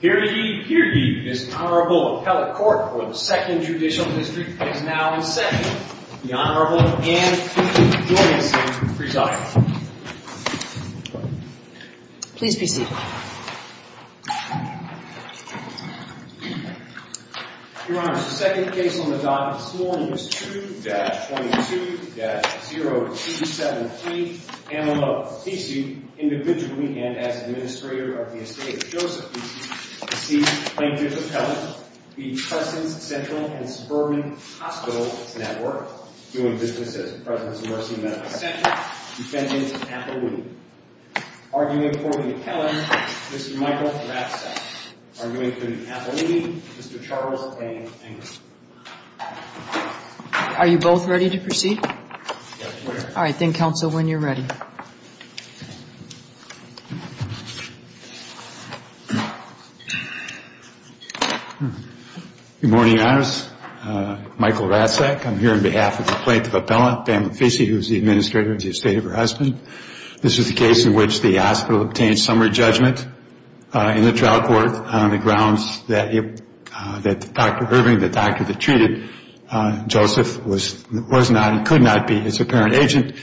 Here ye, here ye, this Honorable Appellate Court for the 2nd Judicial District is now in session. The Honorable Ann P. Julianson presiding. Please be seated. Your Honor, the second case on the docket this morning is 2-22-0273, Pamela Fese, individually and as Administrator of the Estate of Joseph Fese, deceased plaintiff Appellant v. Presence Central & Suburban Hospitals Network, doing business at Presence Mercy Medical Center, defendant Appellini. Arguing for the Appellant, Mr. Michael Rapsack. Arguing for the Appellini, Mr. Charles A. Ingram. Yes, Your Honor. All right. Then counsel, when you're ready. Good morning, Your Honor. Michael Rapsack. I'm here on behalf of the plaintiff Appellant, Pamela Fese, who is the Administrator of the Estate of her husband. This is the case in which the hospital obtained summary judgment in the trial court on the grounds that Dr. Irving, the doctor that treated Joseph, was not and could not be his apparent agent,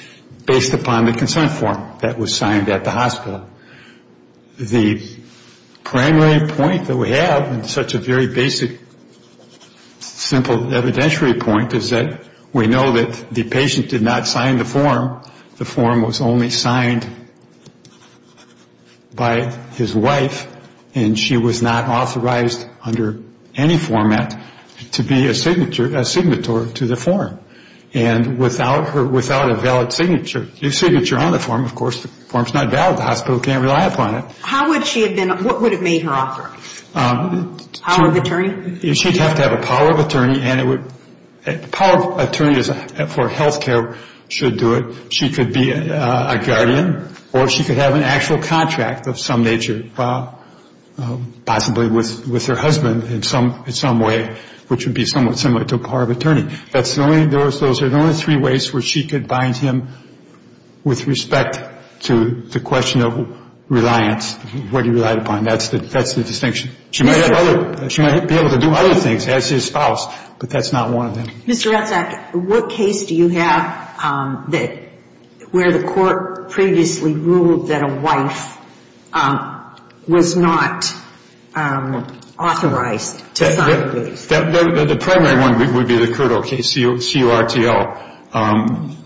based upon the consent form that was signed at the hospital. The primary point that we have, and such a very basic, simple evidentiary point, is that we know that the patient did not sign the form. The form was only signed by his wife, and she was not authorized under any format to be a signature, a signatory to the form. And without a valid signature on the form, of course, the form is not valid. The hospital can't rely upon it. How would she have been, what would have made her offer? Power of attorney? She'd have to have a power of attorney, and a power of attorney for health care should do it. She could be a guardian, or she could have an actual contract of some nature, possibly with her husband in some way, which would be somewhat similar to a power of attorney. Those are the only three ways where she could bind him with respect to the question of reliance, what he relied upon. That's the distinction. She might be able to do other things as his spouse, but that's not one of them. Mr. Ratzak, what case do you have where the court previously ruled that a wife was not authorized to sign the form? The primary one would be the CURTO case, C-U-R-T-O.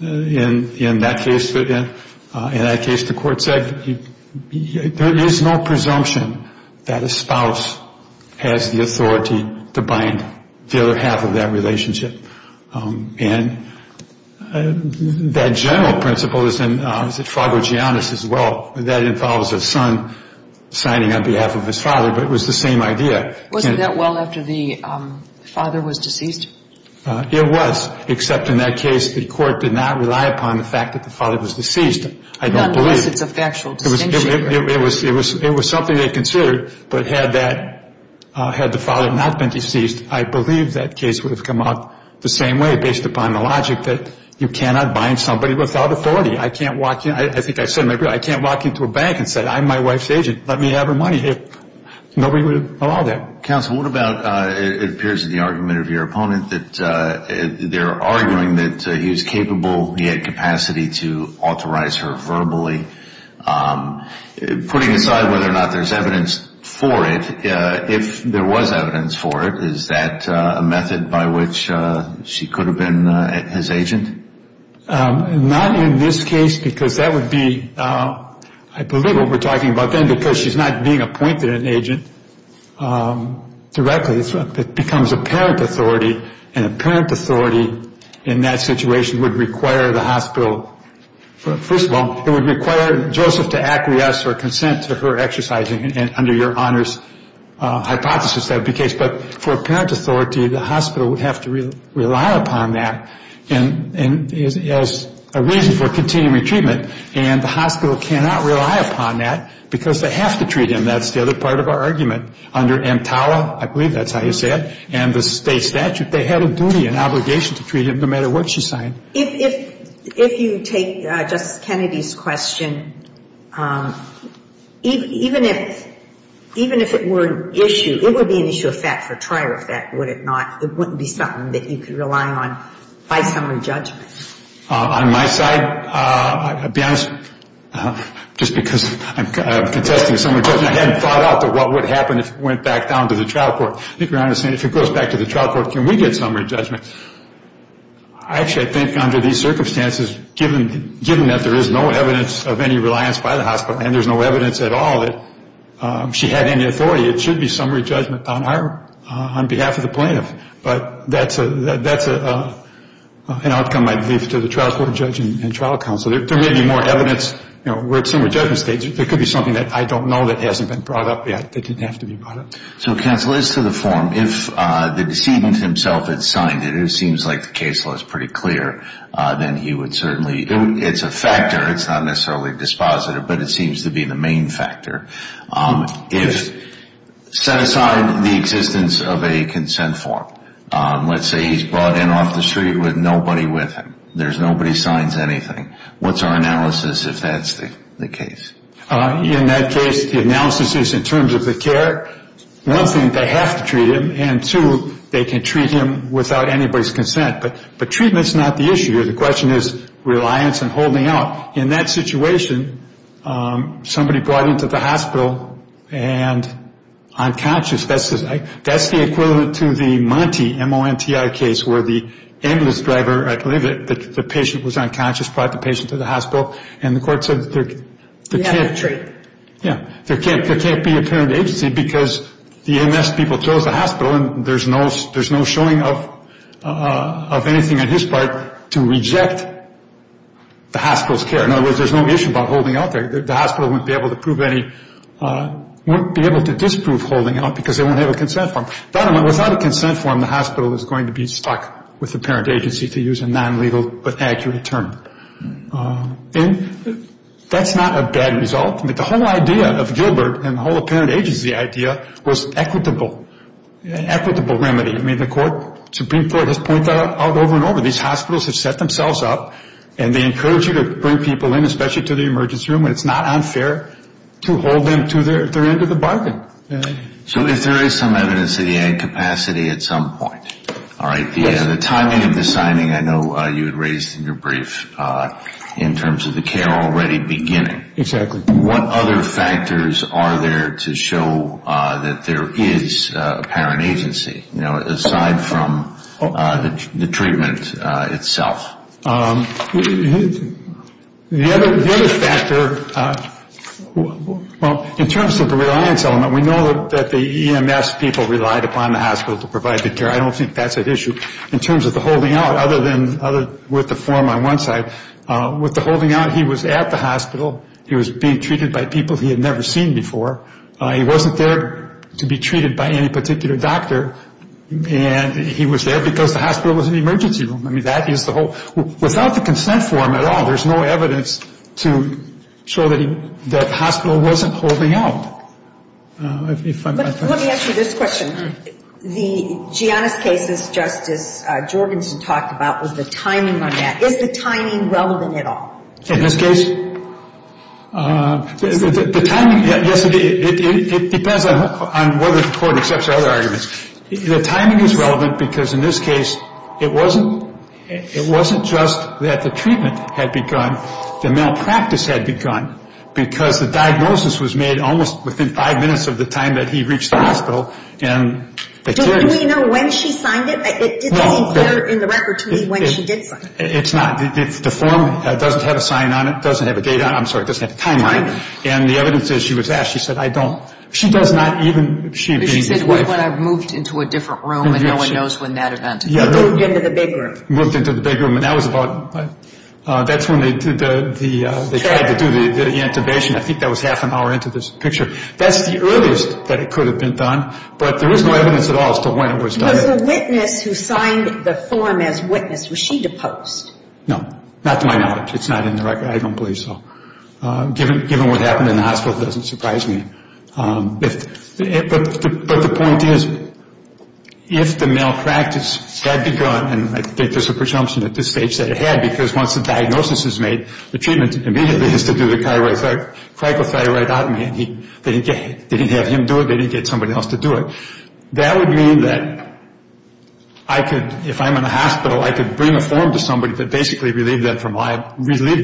In that case, the court said there is no presumption that a spouse has the authority to bind the other half of that relationship. And that general principle is in Fra Gorgianis as well. That involves a son signing on behalf of his father, but it was the same idea. Wasn't that well after the father was deceased? It was, except in that case the court did not rely upon the fact that the father was deceased. I don't believe. Not unless it's a factual distinction. It was something they considered, but had the father not been deceased, I believe that case would have come out the same way based upon the logic that you cannot bind somebody without authority. I can't walk into a bank and say, I'm my wife's agent. Let me have her money. Nobody would allow that. Counsel, what about it appears in the argument of your opponent that they're arguing that he was capable, he had capacity to authorize her verbally. Putting aside whether or not there's evidence for it, if there was evidence for it, is that a method by which she could have been his agent? Not in this case because that would be, I believe what we're talking about then, because she's not being appointed an agent directly. It becomes apparent authority, and apparent authority in that situation would require the hospital. First of all, it would require Joseph to acquiesce or consent to her exercising under your honors hypothesis. That would be the case. But for apparent authority, the hospital would have to rely upon that as a reason for continuing treatment. And the hospital cannot rely upon that because they have to treat him. That's the other part of our argument. Under EMTALA, I believe that's how you say it, and the state statute, they had a duty, an obligation to treat him no matter what she signed. If you take Justice Kennedy's question, even if it were an issue, it would be an issue of fact for trier effect, would it not? It wouldn't be something that you could rely on by summary judgment. On my side, to be honest, just because I'm contesting summary judgment, I hadn't thought out what would happen if it went back down to the trial court. I think your Honor is saying if it goes back to the trial court, can we get summary judgment? Actually, I think under these circumstances, given that there is no evidence of any reliance by the hospital, and there's no evidence at all that she had any authority, it should be summary judgment on her, on behalf of the plaintiff. But that's an outcome, I believe, to the trial court judge and trial counsel. There may be more evidence. We're at summary judgment stage. There could be something that I don't know that hasn't been brought up yet that didn't have to be brought up. So counsel, as to the form, if the decedent himself had signed it, it seems like the case law is pretty clear, then he would certainly do it. It's a factor. It's not necessarily dispositive, but it seems to be the main factor. If set aside the existence of a consent form, let's say he's brought in off the street with nobody with him, there's nobody signs anything, what's our analysis if that's the case? In that case, the analysis is in terms of the care, one thing, they have to treat him, and two, they can treat him without anybody's consent. But treatment's not the issue here. The question is reliance and holding out. Now, in that situation, somebody brought him to the hospital and unconscious. That's the equivalent to the Monte, M-O-N-T-I, case where the ambulance driver, I believe it, the patient was unconscious, brought the patient to the hospital, and the court said there can't be a parent agency because the MS people chose the hospital, and there's no showing of anything on his part to reject the hospital's care. In other words, there's no issue about holding out there. The hospital wouldn't be able to disprove holding out because they won't have a consent form. Without a consent form, the hospital is going to be stuck with the parent agency, to use a non-legal but accurate term. And that's not a bad result. The whole idea of Gilbert and the whole parent agency idea was equitable, an equitable remedy. I mean, the Supreme Court has pointed that out over and over. These hospitals have set themselves up, and they encourage you to bring people in, especially to the emergency room, and it's not unfair to hold them to their end of the bargain. So if there is some evidence of the incapacity at some point, all right, The timing of the signing I know you had raised in your brief in terms of the care already beginning. Exactly. What other factors are there to show that there is a parent agency, you know, aside from the treatment itself? The other factor, well, in terms of the reliance element, we know that the EMS people relied upon the hospital to provide the care. I don't think that's an issue. In terms of the holding out, other than with the form on one side, with the holding out, he was at the hospital. He was being treated by people he had never seen before. He wasn't there to be treated by any particular doctor. And he was there because the hospital was in the emergency room. I mean, that is the whole. Without the consent form at all, there's no evidence to show that the hospital wasn't holding out. Let me ask you this question. The Giannis case, as Justice Jorgensen talked about, was the timing on that. Is the timing relevant at all? In this case? The timing, yes, it depends on whether the court accepts our other arguments. The timing is relevant because in this case, it wasn't just that the treatment had begun. The malpractice had begun because the diagnosis was made almost within five minutes of the time that he reached the hospital. Do we know when she signed it? It didn't appear in the record to me when she did sign it. It's not. It's deformed. It doesn't have a sign on it. It doesn't have a date on it. I'm sorry, it doesn't have a timeline. And the evidence is she was asked. She said, I don't. She does not even, she being his wife. But she said, well, I moved into a different room, and no one knows when that event occurred. Moved into the big room. Moved into the big room. And that was about, that's when they did the, they tried to do the intubation. I think that was half an hour into this picture. That's the earliest that it could have been done. But there was no evidence at all as to when it was done. Was the witness who signed the form as witness, was she deposed? No. Not to my knowledge. It's not in the record. I don't believe so. Given what happened in the hospital, it doesn't surprise me. But the point is, if the malpractice had begun, and I think there's a presumption at this stage that it had, because once the diagnosis is made, the treatment immediately is to do the cryo-thyroidotomy, and they didn't have him do it. They didn't get somebody else to do it. That would mean that I could, if I'm in a hospital, I could bring a form to somebody that basically relieved them from liability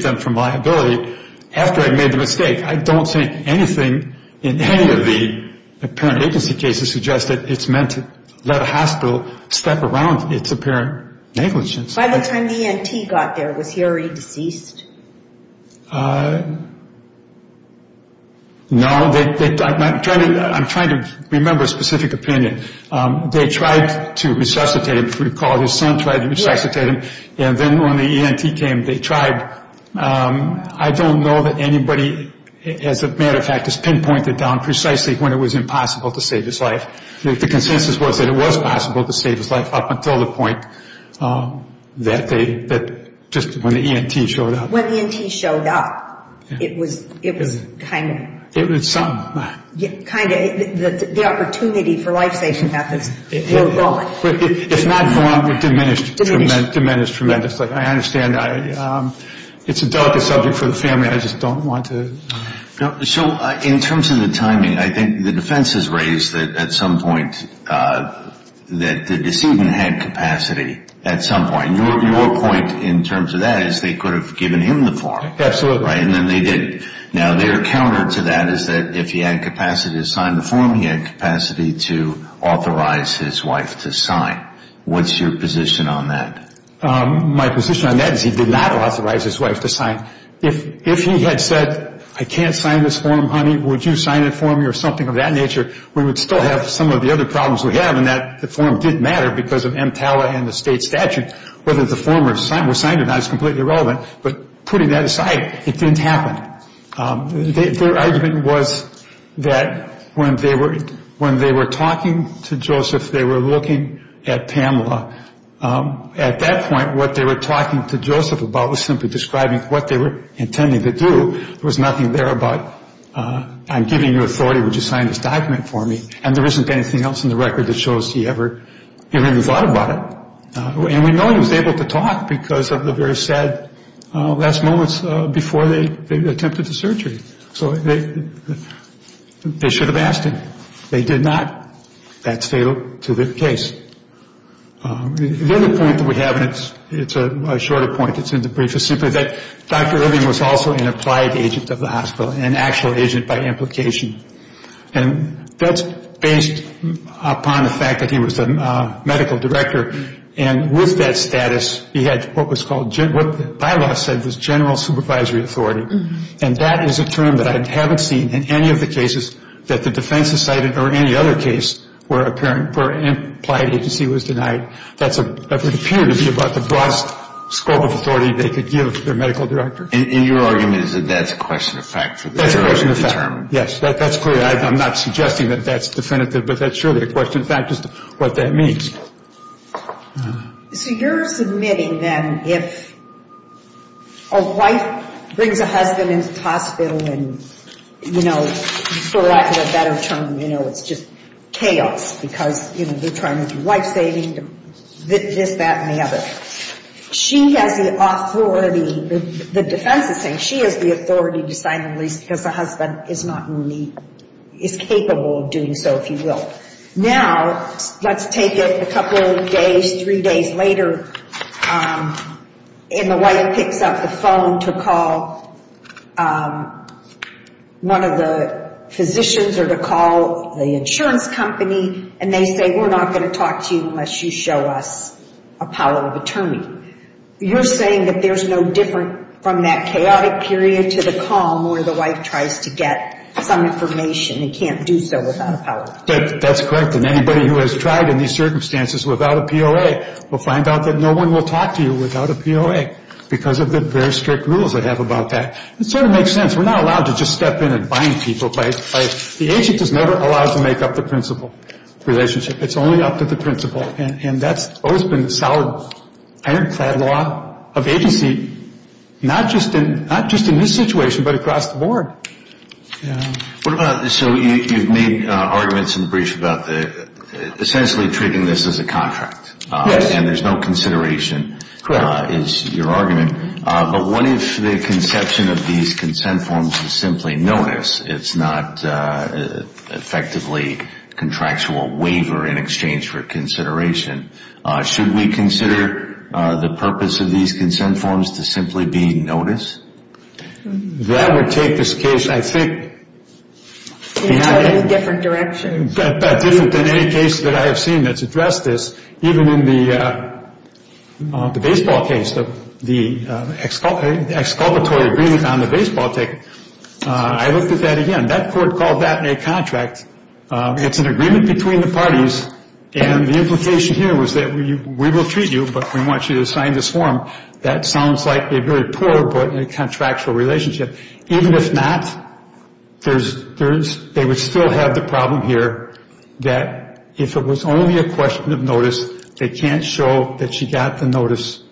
after I made the mistake. I don't think anything in any of the apparent agency cases suggests that it's meant to let a hospital step around its apparent negligence. By the time the ENT got there, was he already deceased? No. I'm trying to remember a specific opinion. They tried to resuscitate him, if you recall. His son tried to resuscitate him, and then when the ENT came, they tried. I don't know that anybody, as a matter of fact, has pinpointed down precisely when it was impossible to save his life. The consensus was that it was possible to save his life up until the point that just when the ENT showed up. When the ENT showed up, it was kind of the opportunity for life-saving methods were gone. It's not gone. It diminished tremendously. I understand it's a delicate subject for the family. I just don't want to. So in terms of the timing, I think the defense has raised that at some point that the decedent had capacity at some point. Your point in terms of that is they could have given him the form. Absolutely. And then they didn't. Now, their counter to that is that if he had capacity to sign the form, he had capacity to authorize his wife to sign. What's your position on that? My position on that is he did not authorize his wife to sign. If he had said, I can't sign this form, honey, would you sign it for me or something of that nature, we would still have some of the other problems we have in that the form did matter because of EMTALA and the state statute. Whether the form was signed or not is completely irrelevant. But putting that aside, it didn't happen. Their argument was that when they were talking to Joseph, they were looking at Pamela. At that point, what they were talking to Joseph about was simply describing what they were intending to do. There was nothing there about I'm giving you authority. Would you sign this document for me? And there isn't anything else in the record that shows he ever even thought about it. And we know he was able to talk because of the very sad last moments before they attempted the surgery. So they should have asked him. They did not. That's fatal to the case. The other point that we have, and it's a shorter point that's in the brief, is simply that Dr. Irving was also an applied agent of the hospital, an actual agent by implication. And that's based upon the fact that he was a medical director. And with that status, he had what the bylaws said was general supervisory authority. And that is a term that I haven't seen in any of the cases that the defense has cited or any other case where an applied agency was denied. That would appear to be about the broadest scope of authority they could give their medical director. And your argument is that that's a question of fact? That's a question of fact. Yes, that's clear. I'm not suggesting that that's definitive. But sure, the question of fact is what that means. So you're submitting then if a wife brings a husband into the hospital and, you know, for lack of a better term, you know, it's just chaos because, you know, they're trying to do life saving, this, that, and the other. She has the authority, the defense is saying she has the authority to sign the lease because the husband is not really, is capable of doing so, if you will. Now, let's take it a couple days, three days later, and the wife picks up the phone to call one of the physicians or to call the insurance company, and they say we're not going to talk to you unless you show us a power of attorney. You're saying that there's no different from that chaotic period to the calm where the wife tries to get some information and can't do so without a power of attorney? That's correct. And anybody who has tried in these circumstances without a POA will find out that no one will talk to you without a POA because of the very strict rules they have about that. It sort of makes sense. We're not allowed to just step in and bind people. The agent is never allowed to make up the principal relationship. It's only up to the principal, and that's always been the solid ironclad law of agency, not just in this situation but across the board. So you've made arguments in the brief about essentially treating this as a contract. Yes. And there's no consideration is your argument. But what if the conception of these consent forms is simply notice? It's not effectively contractual waiver in exchange for consideration. Should we consider the purpose of these consent forms to simply be notice? That would take this case, I think, in a different direction. That's different than any case that I have seen that's addressed this, even in the baseball case, the exculpatory agreement on the baseball ticket. I looked at that again. That court called that a contract. It's an agreement between the parties, and the implication here was that we will treat you, but we want you to sign this form. That sounds like a very poor but contractual relationship. Even if not, they would still have the problem here that if it was only a question of notice, they can't show that she got the notice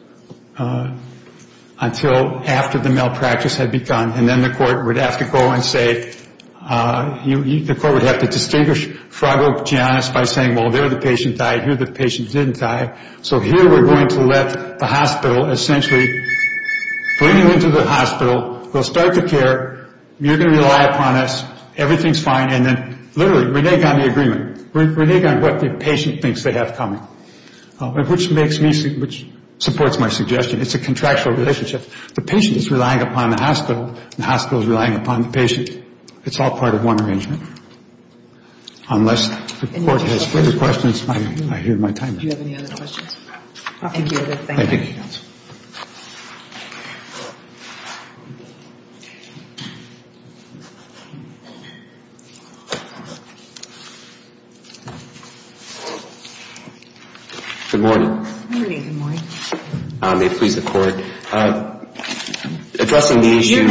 until after the malpractice had begun, and then the court would have to go and say, the court would have to distinguish Frago Giannis by saying, well, there the patient died, here the patient didn't die. So here we're going to let the hospital essentially bring you into the hospital. We'll start the care. You're going to rely upon us. Everything's fine. And then literally renege on the agreement, renege on what the patient thinks they have coming, which supports my suggestion. It's a contractual relationship. The patient is relying upon the hospital. The hospital is relying upon the patient. It's all part of one arrangement. Unless the court has further questions, I hear my time. Do you have any other questions? Thank you. Thank you. Good morning. Good morning. May it please the Court. Addressing the issue.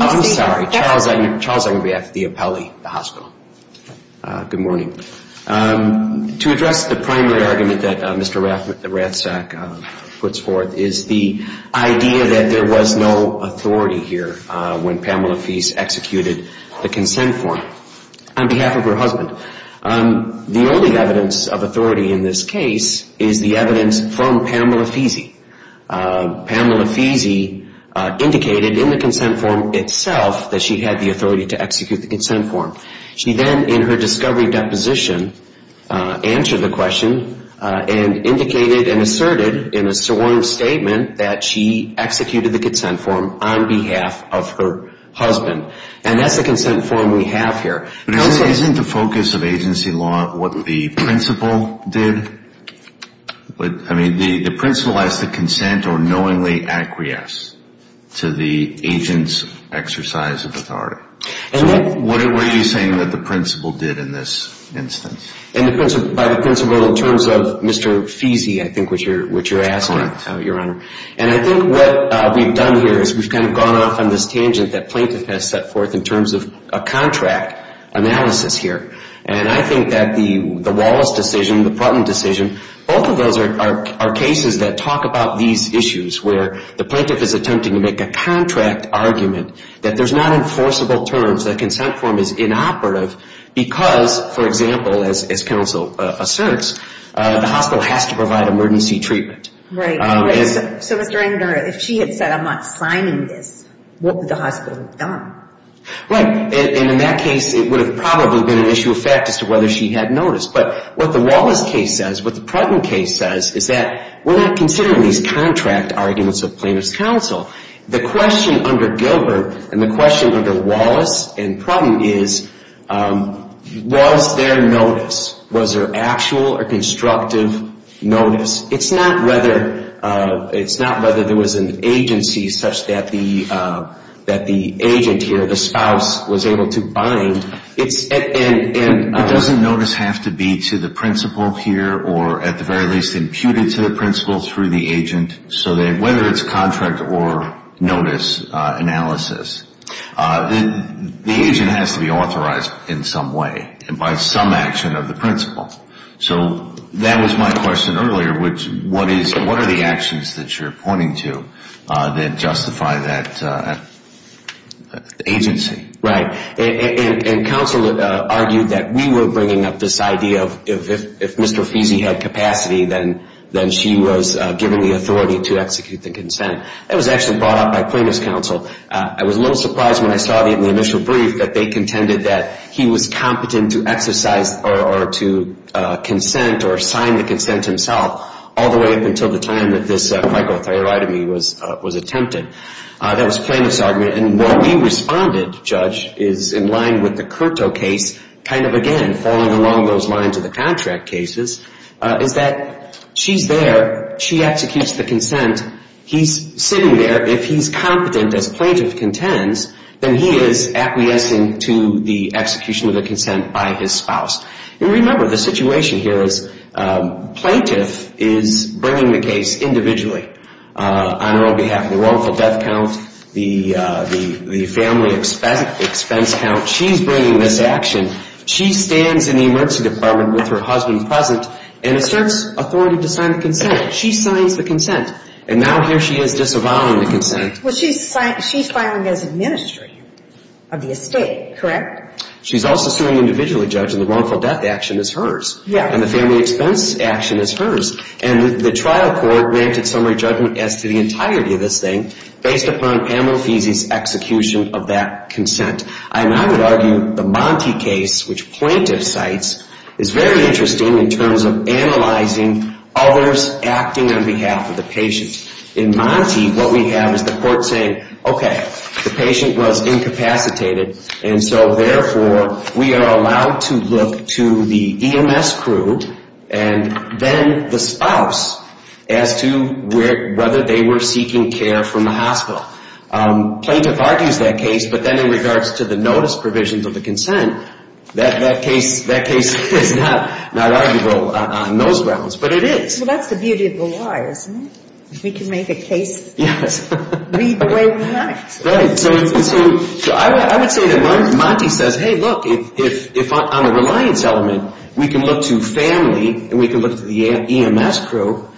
I'm sorry. Charles Agnew. Charles Agnew. The appellee. The hospital. Good morning. To address the primary argument that Mr. Rathstack puts forth is the idea that there was no authority here when Pamela Feese executed the consent form on behalf of her husband. The only evidence of authority in this case is the evidence from Pamela Feese. Pamela Feese indicated in the consent form itself that she had the authority to execute the consent form. She then, in her discovery deposition, answered the question and indicated and asserted in a sworn statement that she executed the consent form on behalf of her husband. And that's the consent form we have here. Isn't the focus of agency law what the principal did? I mean, the principal has to consent or knowingly acquiesce to the agent's exercise of authority. So what were you saying that the principal did in this instance? By the principal in terms of Mr. Feese, I think, which you're asking, Your Honor. Correct. And I think what we've done here is we've kind of gone off on this tangent that plaintiff has set forth in terms of a contract analysis here. And I think that the Wallace decision, the Putnam decision, both of those are cases that talk about these issues where the plaintiff is attempting to make a contract argument that there's not enforceable terms, that consent form is inoperative because, for example, as counsel asserts, the hospital has to provide emergency treatment. Right. So, Mr. Rangner, if she had said, I'm not signing this, what would the hospital have done? Right. And in that case, it would have probably been an issue of fact as to whether she had noticed. But what the Wallace case says, what the Putnam case says is that we're not considering these contract arguments of plaintiff's counsel. The question under Gilbert and the question under Wallace and Putnam is, was there notice? Was there actual or constructive notice? It's not whether there was an agency such that the agent here, the spouse, was able to bind. It doesn't notice have to be to the principal here or at the very least imputed to the principal through the agent. So whether it's contract or notice analysis, the agent has to be authorized in some way by some action of the principal. So that was my question earlier, which, what are the actions that you're pointing to that justify that agency? Right. And counsel argued that we were bringing up this idea of if Mr. Fesey had capacity, then she was given the authority to execute the consent. That was actually brought up by plaintiff's counsel. I was a little surprised when I saw it in the initial brief that they contended that he was competent to exercise or to consent or sign the consent himself, all the way up until the time that this phycothioretomy was attempted. That was plaintiff's argument. And where we responded, Judge, is in line with the Curto case, kind of, again, falling along those lines of the contract cases, is that she's there. She executes the consent. He's sitting there. If he's competent, as plaintiff contends, then he is acquiescing to the execution of the consent by his spouse. And remember, the situation here is plaintiff is bringing the case individually on her own behalf. The wrongful death count, the family expense count, she's bringing this action. She stands in the emergency department with her husband present and asserts authority to sign the consent. She signs the consent. And now here she is disavowing the consent. Well, she's filing as a ministry of the estate, correct? She's also suing individually, Judge, and the wrongful death action is hers. Yeah. And the family expense action is hers. And the trial court granted summary judgment as to the entirety of this thing, based upon Pamela Feesey's execution of that consent. And I would argue the Monte case, which plaintiff cites, is very interesting in terms of analyzing others acting on behalf of the patient. In Monte, what we have is the court saying, okay, the patient was incapacitated, and so therefore we are allowed to look to the EMS crew and then the spouse as to whether they were seeking care from the hospital. Plaintiff argues that case, but then in regards to the notice provisions of the consent, that case is not arguable on those grounds, but it is. Well, that's the beauty of the law, isn't it? We can make a case, read the way we like. Right. So I would say that Monte says, hey, look, if on a reliance element we can look to family and we can look to the EMS crew,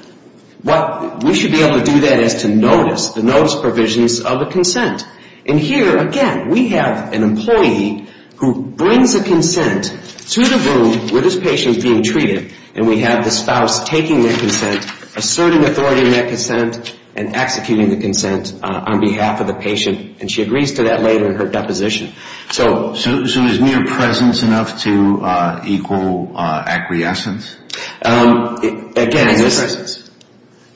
we should be able to do that as to notice, the notice provisions of the consent. And here, again, we have an employee who brings a consent to the room where this patient is being treated, and we have the spouse taking that consent, asserting authority in that consent, and executing the consent on behalf of the patient. And she agrees to that later in her deposition. So is mere presence enough to equal acquiescence? Again, this is...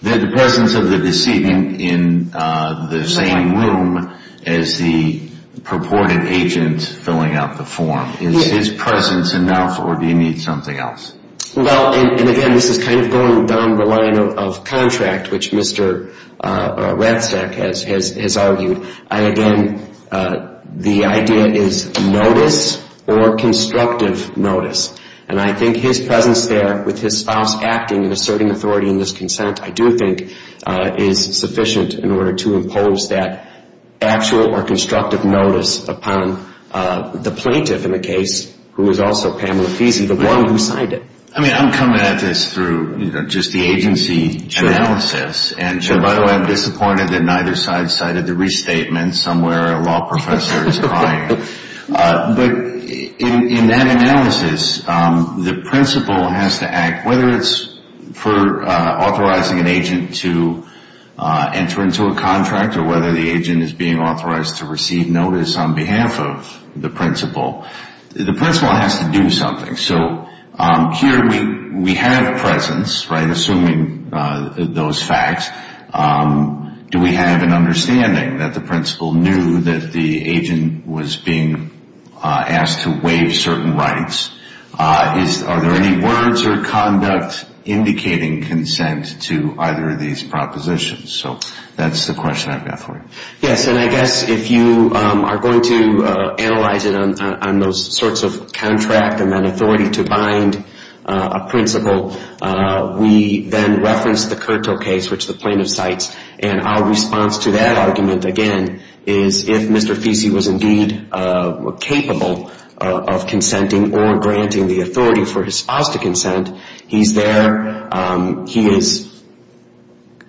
The presence of the decedent in the same room as the purported agent filling out the form. Is his presence enough, or do you need something else? Well, and again, this is kind of going down the line of contract, which Mr. Ratzak has argued. And again, the idea is notice or constructive notice. And I think his presence there with his spouse acting and asserting authority in this consent, I do think is sufficient in order to impose that actual or constructive notice upon the plaintiff in the case, who is also Pamela Fiesen, the one who signed it. I mean, I'm coming at this through just the agency analysis. And by the way, I'm disappointed that neither side cited the restatement somewhere. A law professor is crying. But in that analysis, the principal has to act, whether it's for authorizing an agent to enter into a contract or whether the agent is being authorized to receive notice on behalf of the principal. The principal has to do something. So here we have a presence, right, assuming those facts. Do we have an understanding that the principal knew that the agent was being asked to waive certain rights? Are there any words or conduct indicating consent to either of these propositions? So that's the question I've got for you. Yes, and I guess if you are going to analyze it on those sorts of contract and then authority to bind a principal, we then reference the Curto case, which the plaintiff cites. And our response to that argument, again, is if Mr. Fiesen was indeed capable of consenting or granting the authority for his spouse to consent, he's there. He is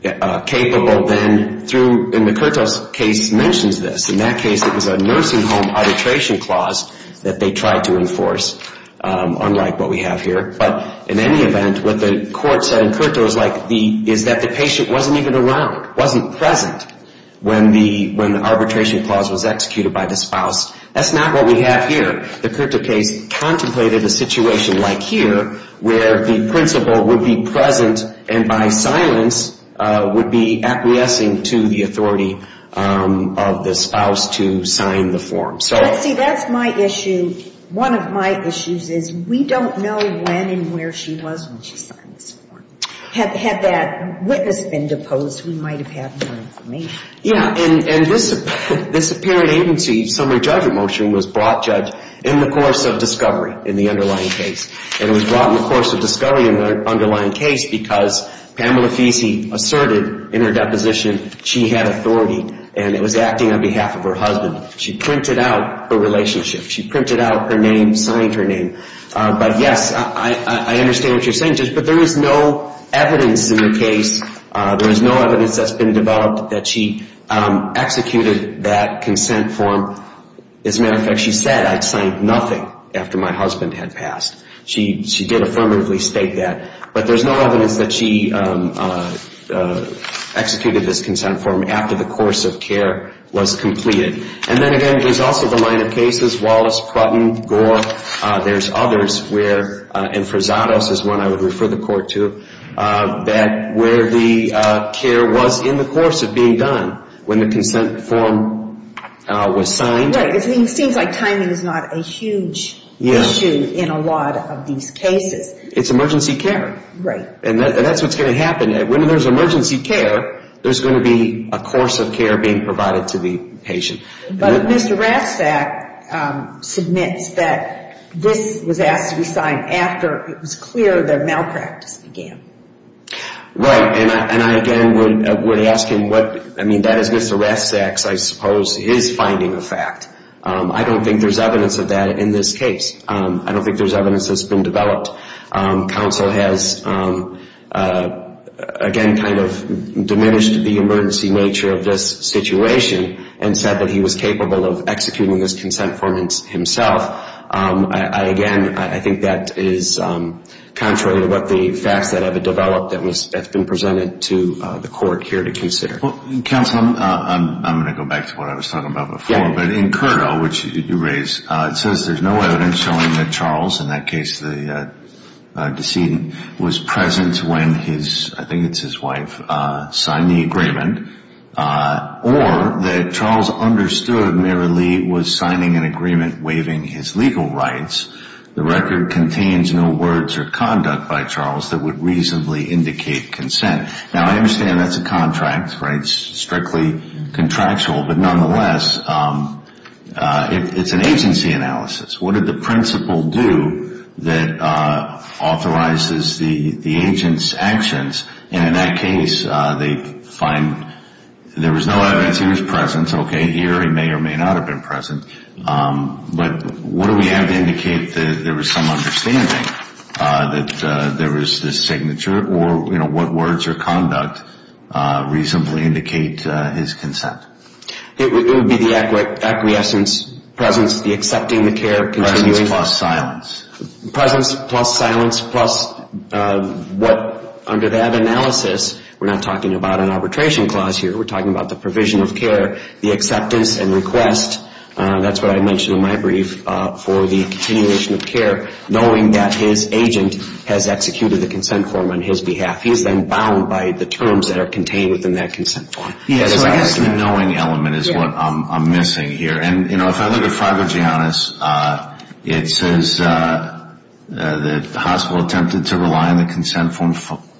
capable then through, and the Curto case mentions this. In that case, it was a nursing home arbitration clause that they tried to enforce, unlike what we have here. But in any event, what the court said in Curto is that the patient wasn't even around, wasn't present when the arbitration clause was executed by the spouse. That's not what we have here. The Curto case contemplated a situation like here where the principal would be present and by silence would be acquiescing to the authority of the spouse to sign the form. See, that's my issue. One of my issues is we don't know when and where she was when she signed this form. Had that witness been deposed, we might have had more information. Yeah, and this apparent agency summary judgment motion was brought, Judge, in the course of discovery in the underlying case. And it was brought in the course of discovery in the underlying case because Pamela Fiese asserted in her deposition she had authority, and it was acting on behalf of her husband. She printed out her relationship. She printed out her name, signed her name. But, yes, I understand what you're saying, Judge, but there is no evidence in the case. There is no evidence that's been developed that she executed that consent form. As a matter of fact, she said, I signed nothing after my husband had passed. She did affirmatively state that. But there's no evidence that she executed this consent form after the course of care was completed. And then, again, there's also the line of cases, Wallace, Plutton, Gore. There's others where, and Frazados is one I would refer the Court to, where the care was in the course of being done when the consent form was signed. Right. It seems like timing is not a huge issue in a lot of these cases. It's emergency care. Right. And that's what's going to happen. When there's emergency care, there's going to be a course of care being provided to the patient. But if Mr. Rastak submits that this was asked to be signed after it was clear that malpractice began. Right. And I, again, would ask him what, I mean, that is Mr. Rastak's, I suppose, his finding of fact. I don't think there's evidence of that in this case. I don't think there's evidence that's been developed. Counsel has, again, kind of diminished the emergency nature of this situation and said that he was capable of executing this consent form himself. I, again, I think that is contrary to what the facts that have developed that have been presented to the Court here to consider. Counsel, I'm going to go back to what I was talking about before. Yeah. But in CURTA, which you raised, it says there's no evidence showing that Charles, in that case the decedent, was present when his, I think it's his wife, signed the agreement. Or that Charles understood merely was signing an agreement waiving his legal rights. The record contains no words or conduct by Charles that would reasonably indicate consent. Now, I understand that's a contract, right, strictly contractual. But nonetheless, it's an agency analysis. What did the principal do that authorizes the agent's actions? And in that case, they find there was no evidence he was present. Okay, here he may or may not have been present. But what do we have to indicate that there was some understanding that there was this signature? Or, you know, what words or conduct reasonably indicate his consent? It would be the acquiescence, presence, the accepting the care, continuing. Presence plus silence. Presence plus silence plus what, under that analysis, we're not talking about an arbitration clause here. We're talking about the provision of care, the acceptance and request. That's what I mentioned in my brief for the continuation of care, knowing that his agent has executed the consent form on his behalf. He is then bound by the terms that are contained within that consent form. So I guess the knowing element is what I'm missing here. And, you know, if I look at Fr. Giannis, it says the hospital attempted to rely on the consent form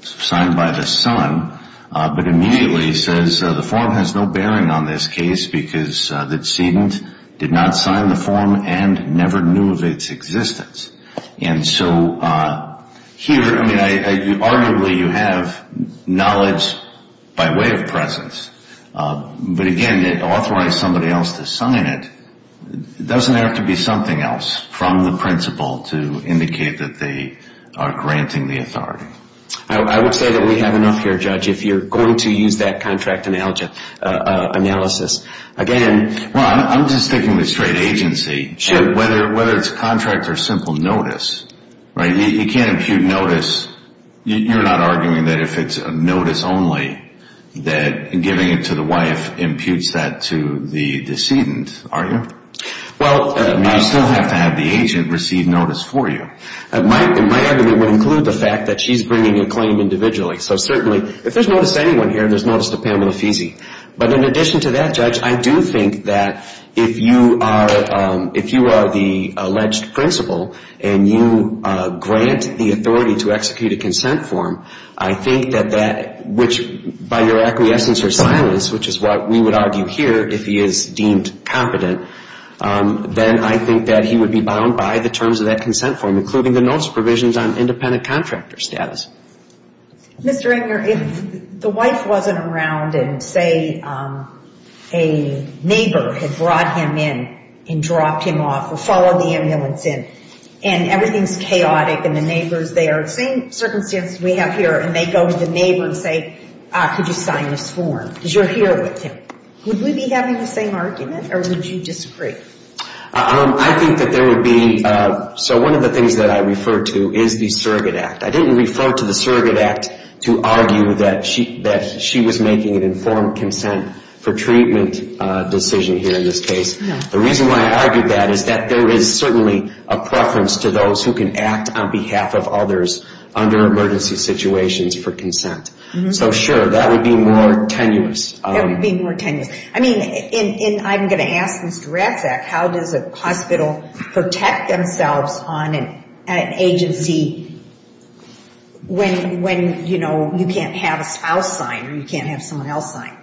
signed by the son. But immediately it says the form has no bearing on this case because the decedent did not sign the form and never knew of its existence. And so here, I mean, arguably you have knowledge by way of presence. But, again, it authorized somebody else to sign it. It doesn't have to be something else from the principal to indicate that they are granting the authority. I would say that we have enough here, Judge, if you're going to use that contract analysis. Again- Well, I'm just thinking the straight agency. Sure. Whether it's contract or simple notice, right? You can't impute notice. You're not arguing that if it's notice only that giving it to the wife imputes that to the decedent, are you? Well- You still have to have the agent receive notice for you. My argument would include the fact that she's bringing a claim individually. So certainly if there's notice to anyone here, there's notice to Pamela Fesey. But in addition to that, Judge, I do think that if you are the alleged principal and you grant the authority to execute a consent form, I think that that, which by your acquiescence or silence, which is what we would argue here if he is deemed competent, then I think that he would be bound by the terms of that consent form, including the notice provisions on independent contractor status. Mr. Enger, if the wife wasn't around and, say, a neighbor had brought him in and dropped him off or followed the ambulance in, and everything's chaotic and the neighbor's there, same circumstance we have here, and they go to the neighbor and say, could you sign this form because you're here with him, would we be having the same argument or would you disagree? I think that there would be- So one of the things that I refer to is the surrogate act. I didn't refer to the surrogate act to argue that she was making an informed consent for treatment decision here in this case. The reason why I argued that is that there is certainly a preference to those who can act on behalf of others under emergency situations for consent. So, sure, that would be more tenuous. That would be more tenuous. I mean, and I'm going to ask Mr. Ratzak, how does a hospital protect themselves on an agency when, you know, you can't have a spouse sign or you can't have someone else sign?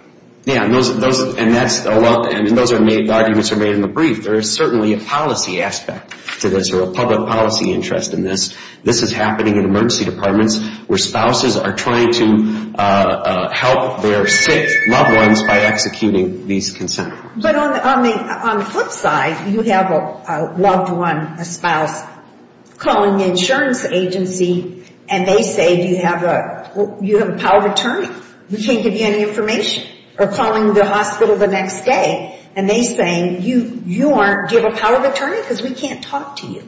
Yeah, and those are arguments that are made in the brief. There is certainly a policy aspect to this or a public policy interest in this. This is happening in emergency departments where spouses are trying to help their sick loved ones by executing these consent forms. But on the flip side, you have a loved one, a spouse, calling the insurance agency and they say, do you have a power of attorney? We can't give you any information. Or calling the hospital the next day and they say, do you have a power of attorney because we can't talk to you.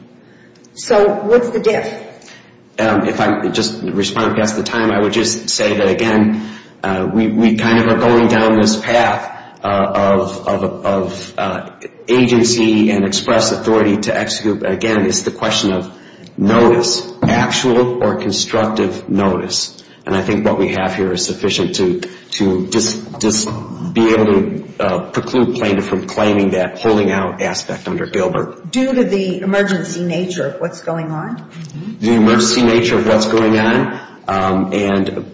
So what's the diff? If I'm just responding past the time, I would just say that, again, we kind of are going down this path of agency and express authority to execute. Again, it's the question of notice, actual or constructive notice. And I think what we have here is sufficient to be able to preclude plaintiff from claiming that holding out aspect under Gilbert. Due to the emergency nature of what's going on? The emergency nature of what's going on. And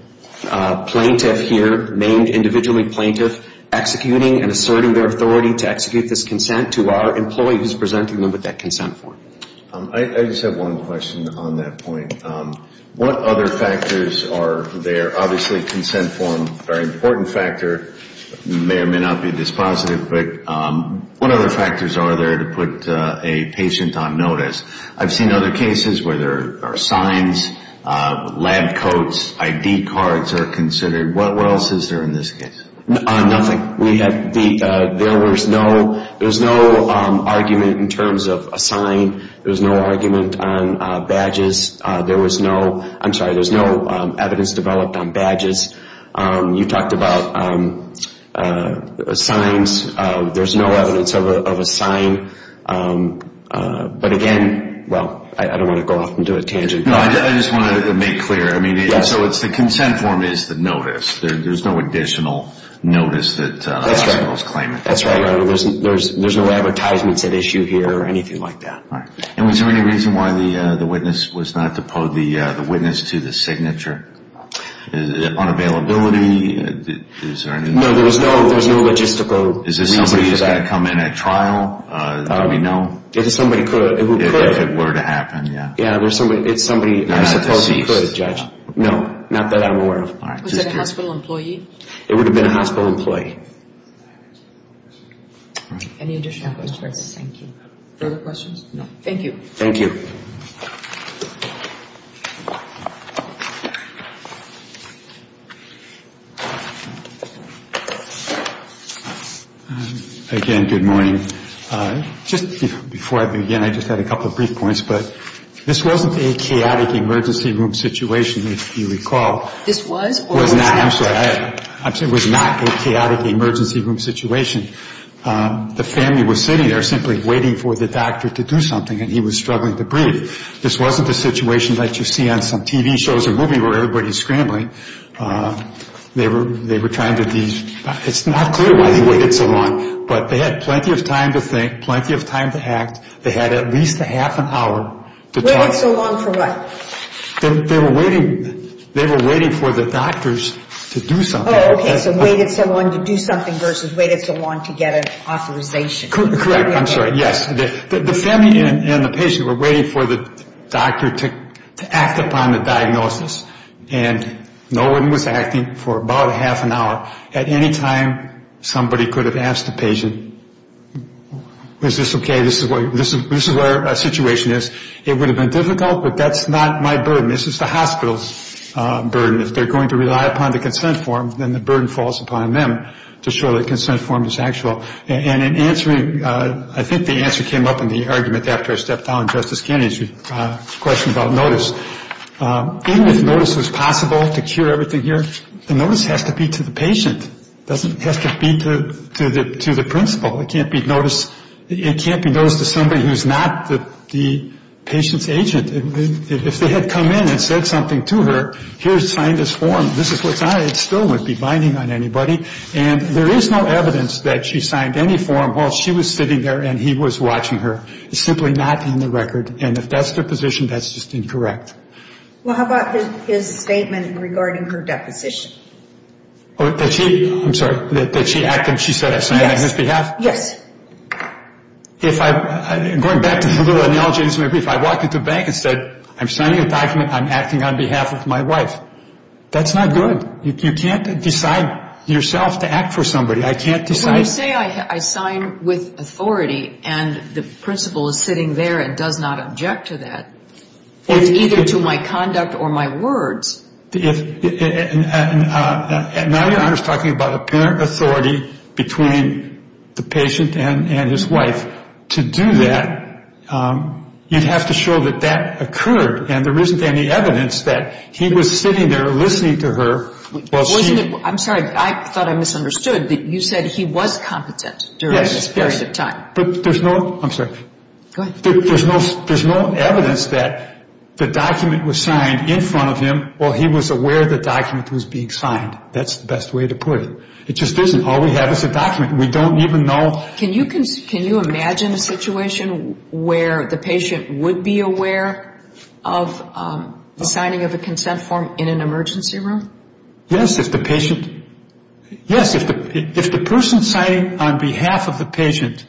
plaintiff here, named individually plaintiff, executing and asserting their authority to execute this consent to our employee who's presenting them with that consent form. I just have one question on that point. What other factors are there? Obviously consent form, very important factor, may or may not be this positive, but what other factors are there to put a patient on notice? I've seen other cases where there are signs, lab coats, ID cards are considered. What else is there in this case? Nothing. There was no argument in terms of a sign. There was no argument on badges. There was no, I'm sorry, there was no evidence developed on badges. You talked about signs. There's no evidence of a sign. But again, well, I don't want to go off and do a tangent. No, I just wanted to make clear. I mean, so it's the consent form is the notice. There's no additional notice that the hospital is claiming. That's right. There's no advertisements at issue here or anything like that. All right. And was there any reason why the witness was not deposed, the witness to the signature? Unavailability? No, there was no logistical reason for that. Is this somebody who's got to come in at trial? Do we know? If it were to happen, yeah. Yeah, it's somebody who supposedly could, Judge. No, not that I'm aware of. Was that a hospital employee? It would have been a hospital employee. Any additional questions? Thank you. Thank you. Again, good morning. Just before I begin, I just had a couple of brief points. But this wasn't a chaotic emergency room situation, if you recall. This was or was not? I'm sorry. It was not a chaotic emergency room situation. The family was sitting there simply waiting for the doctor to do something, and he was struggling to breathe. This wasn't the situation that you see on some TV shows or movies where everybody's scrambling. They were trying to do these. It's not clear why they waited so long, but they had plenty of time to think, plenty of time to act. They had at least a half an hour to talk. Waited so long for what? They were waiting for the doctors to do something. Oh, okay. So waited so long to do something versus waited so long to get an authorization. Correct. I'm sorry. Yes. The family and the patient were waiting for the doctor to act upon the diagnosis, and no one was acting for about a half an hour. At any time, somebody could have asked the patient, is this okay? This is where our situation is. This is the hospital's burden. If they're going to rely upon the consent form, then the burden falls upon them to show that the consent form is actual. And in answering, I think the answer came up in the argument after I stepped down, Justice Kennedy's question about notice. Even if notice was possible to cure everything here, the notice has to be to the patient. It doesn't have to be to the principal. It can't be notice to somebody who's not the patient's agent. If they had come in and said something to her, here, sign this form, this is what's on it, it still wouldn't be binding on anybody. And there is no evidence that she signed any form while she was sitting there and he was watching her. It's simply not in the record. And if that's the position, that's just incorrect. Well, how about his statement regarding her deposition? Oh, that she, I'm sorry, that she acted, she said that on his behalf? Yes. Yes. Going back to the little analogy I just made, if I walked into a bank and said I'm signing a document, I'm acting on behalf of my wife, that's not good. You can't decide yourself to act for somebody. I can't decide. When you say I sign with authority and the principal is sitting there and does not object to that, it's either to my conduct or my words. Now Your Honor is talking about apparent authority between the patient and his wife. To do that, you'd have to show that that occurred and there isn't any evidence that he was sitting there listening to her while she... Wasn't it, I'm sorry, I thought I misunderstood, that you said he was competent during this period of time. Yes. But there's no, I'm sorry. Go ahead. There's no evidence that the document was signed in front of him or he was aware the document was being signed. That's the best way to put it. It just isn't. All we have is a document. We don't even know... Can you imagine a situation where the patient would be aware of the signing of a consent form in an emergency room? Yes, if the patient, yes, if the person signing on behalf of the patient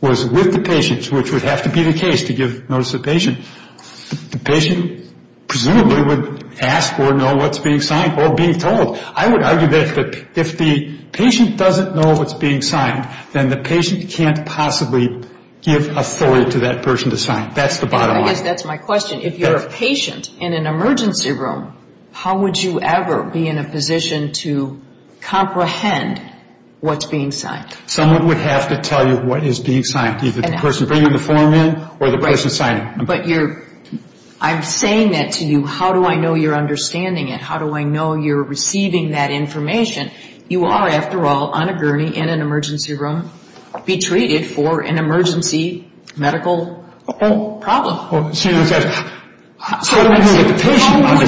was with the patient, which would have to be the case to give notice to the patient, the patient presumably would ask or know what's being signed or being told. I would argue that if the patient doesn't know what's being signed, then the patient can't possibly give authority to that person to sign. That's the bottom line. I guess that's my question. If you're a patient in an emergency room, how would you ever be in a position to comprehend what's being signed? Someone would have to tell you what is being signed, either the person bringing the form in or the person signing. But I'm saying that to you, how do I know you're understanding it? How do I know you're receiving that information? You are, after all, on a gurney in an emergency room, be treated for an emergency medical problem. How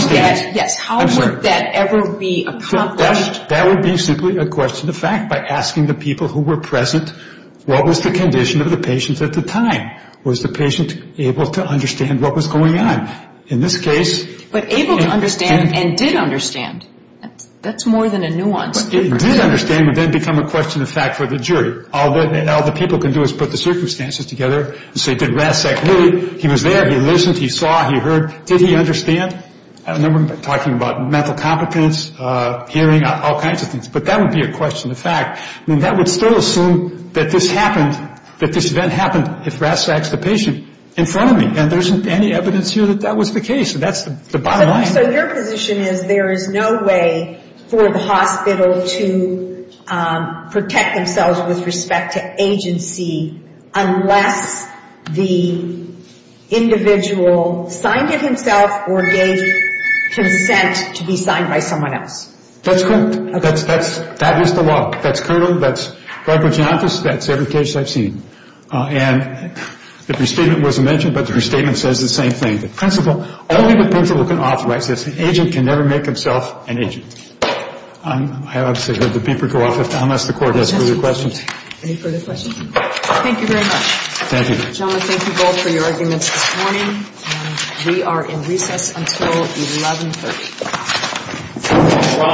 would that ever be accomplished? That would be simply a question of fact by asking the people who were present, what was the condition of the patient at the time? Was the patient able to understand what was going on? In this case, But able to understand and did understand, that's more than a nuance. Did understand would then become a question of fact for the jury. All the people can do is put the circumstances together and say, did RASCAC really, he was there, he listened, he saw, he heard, did he understand? And then we're talking about mental competence, hearing, all kinds of things. But that would be a question of fact. I mean, that would still assume that this happened, that this event happened if RASCAC is the patient in front of me. And there isn't any evidence here that that was the case. That's the bottom line. So your position is there is no way for the hospital to protect themselves with respect to agency unless the individual signed it himself or gave consent to be signed by someone else? That's correct. That is the law. That's current. That's Barbara's office. That's every case I've seen. And the restatement wasn't mentioned, but the restatement says the same thing. The principal, only the principal can authorize this. The agent can never make himself an agent. I'm going to let the beeper go off unless the Court has further questions. Any further questions? Thank you very much. Thank you. Gentlemen, thank you both for your arguments this morning. And we are in recess until 1130.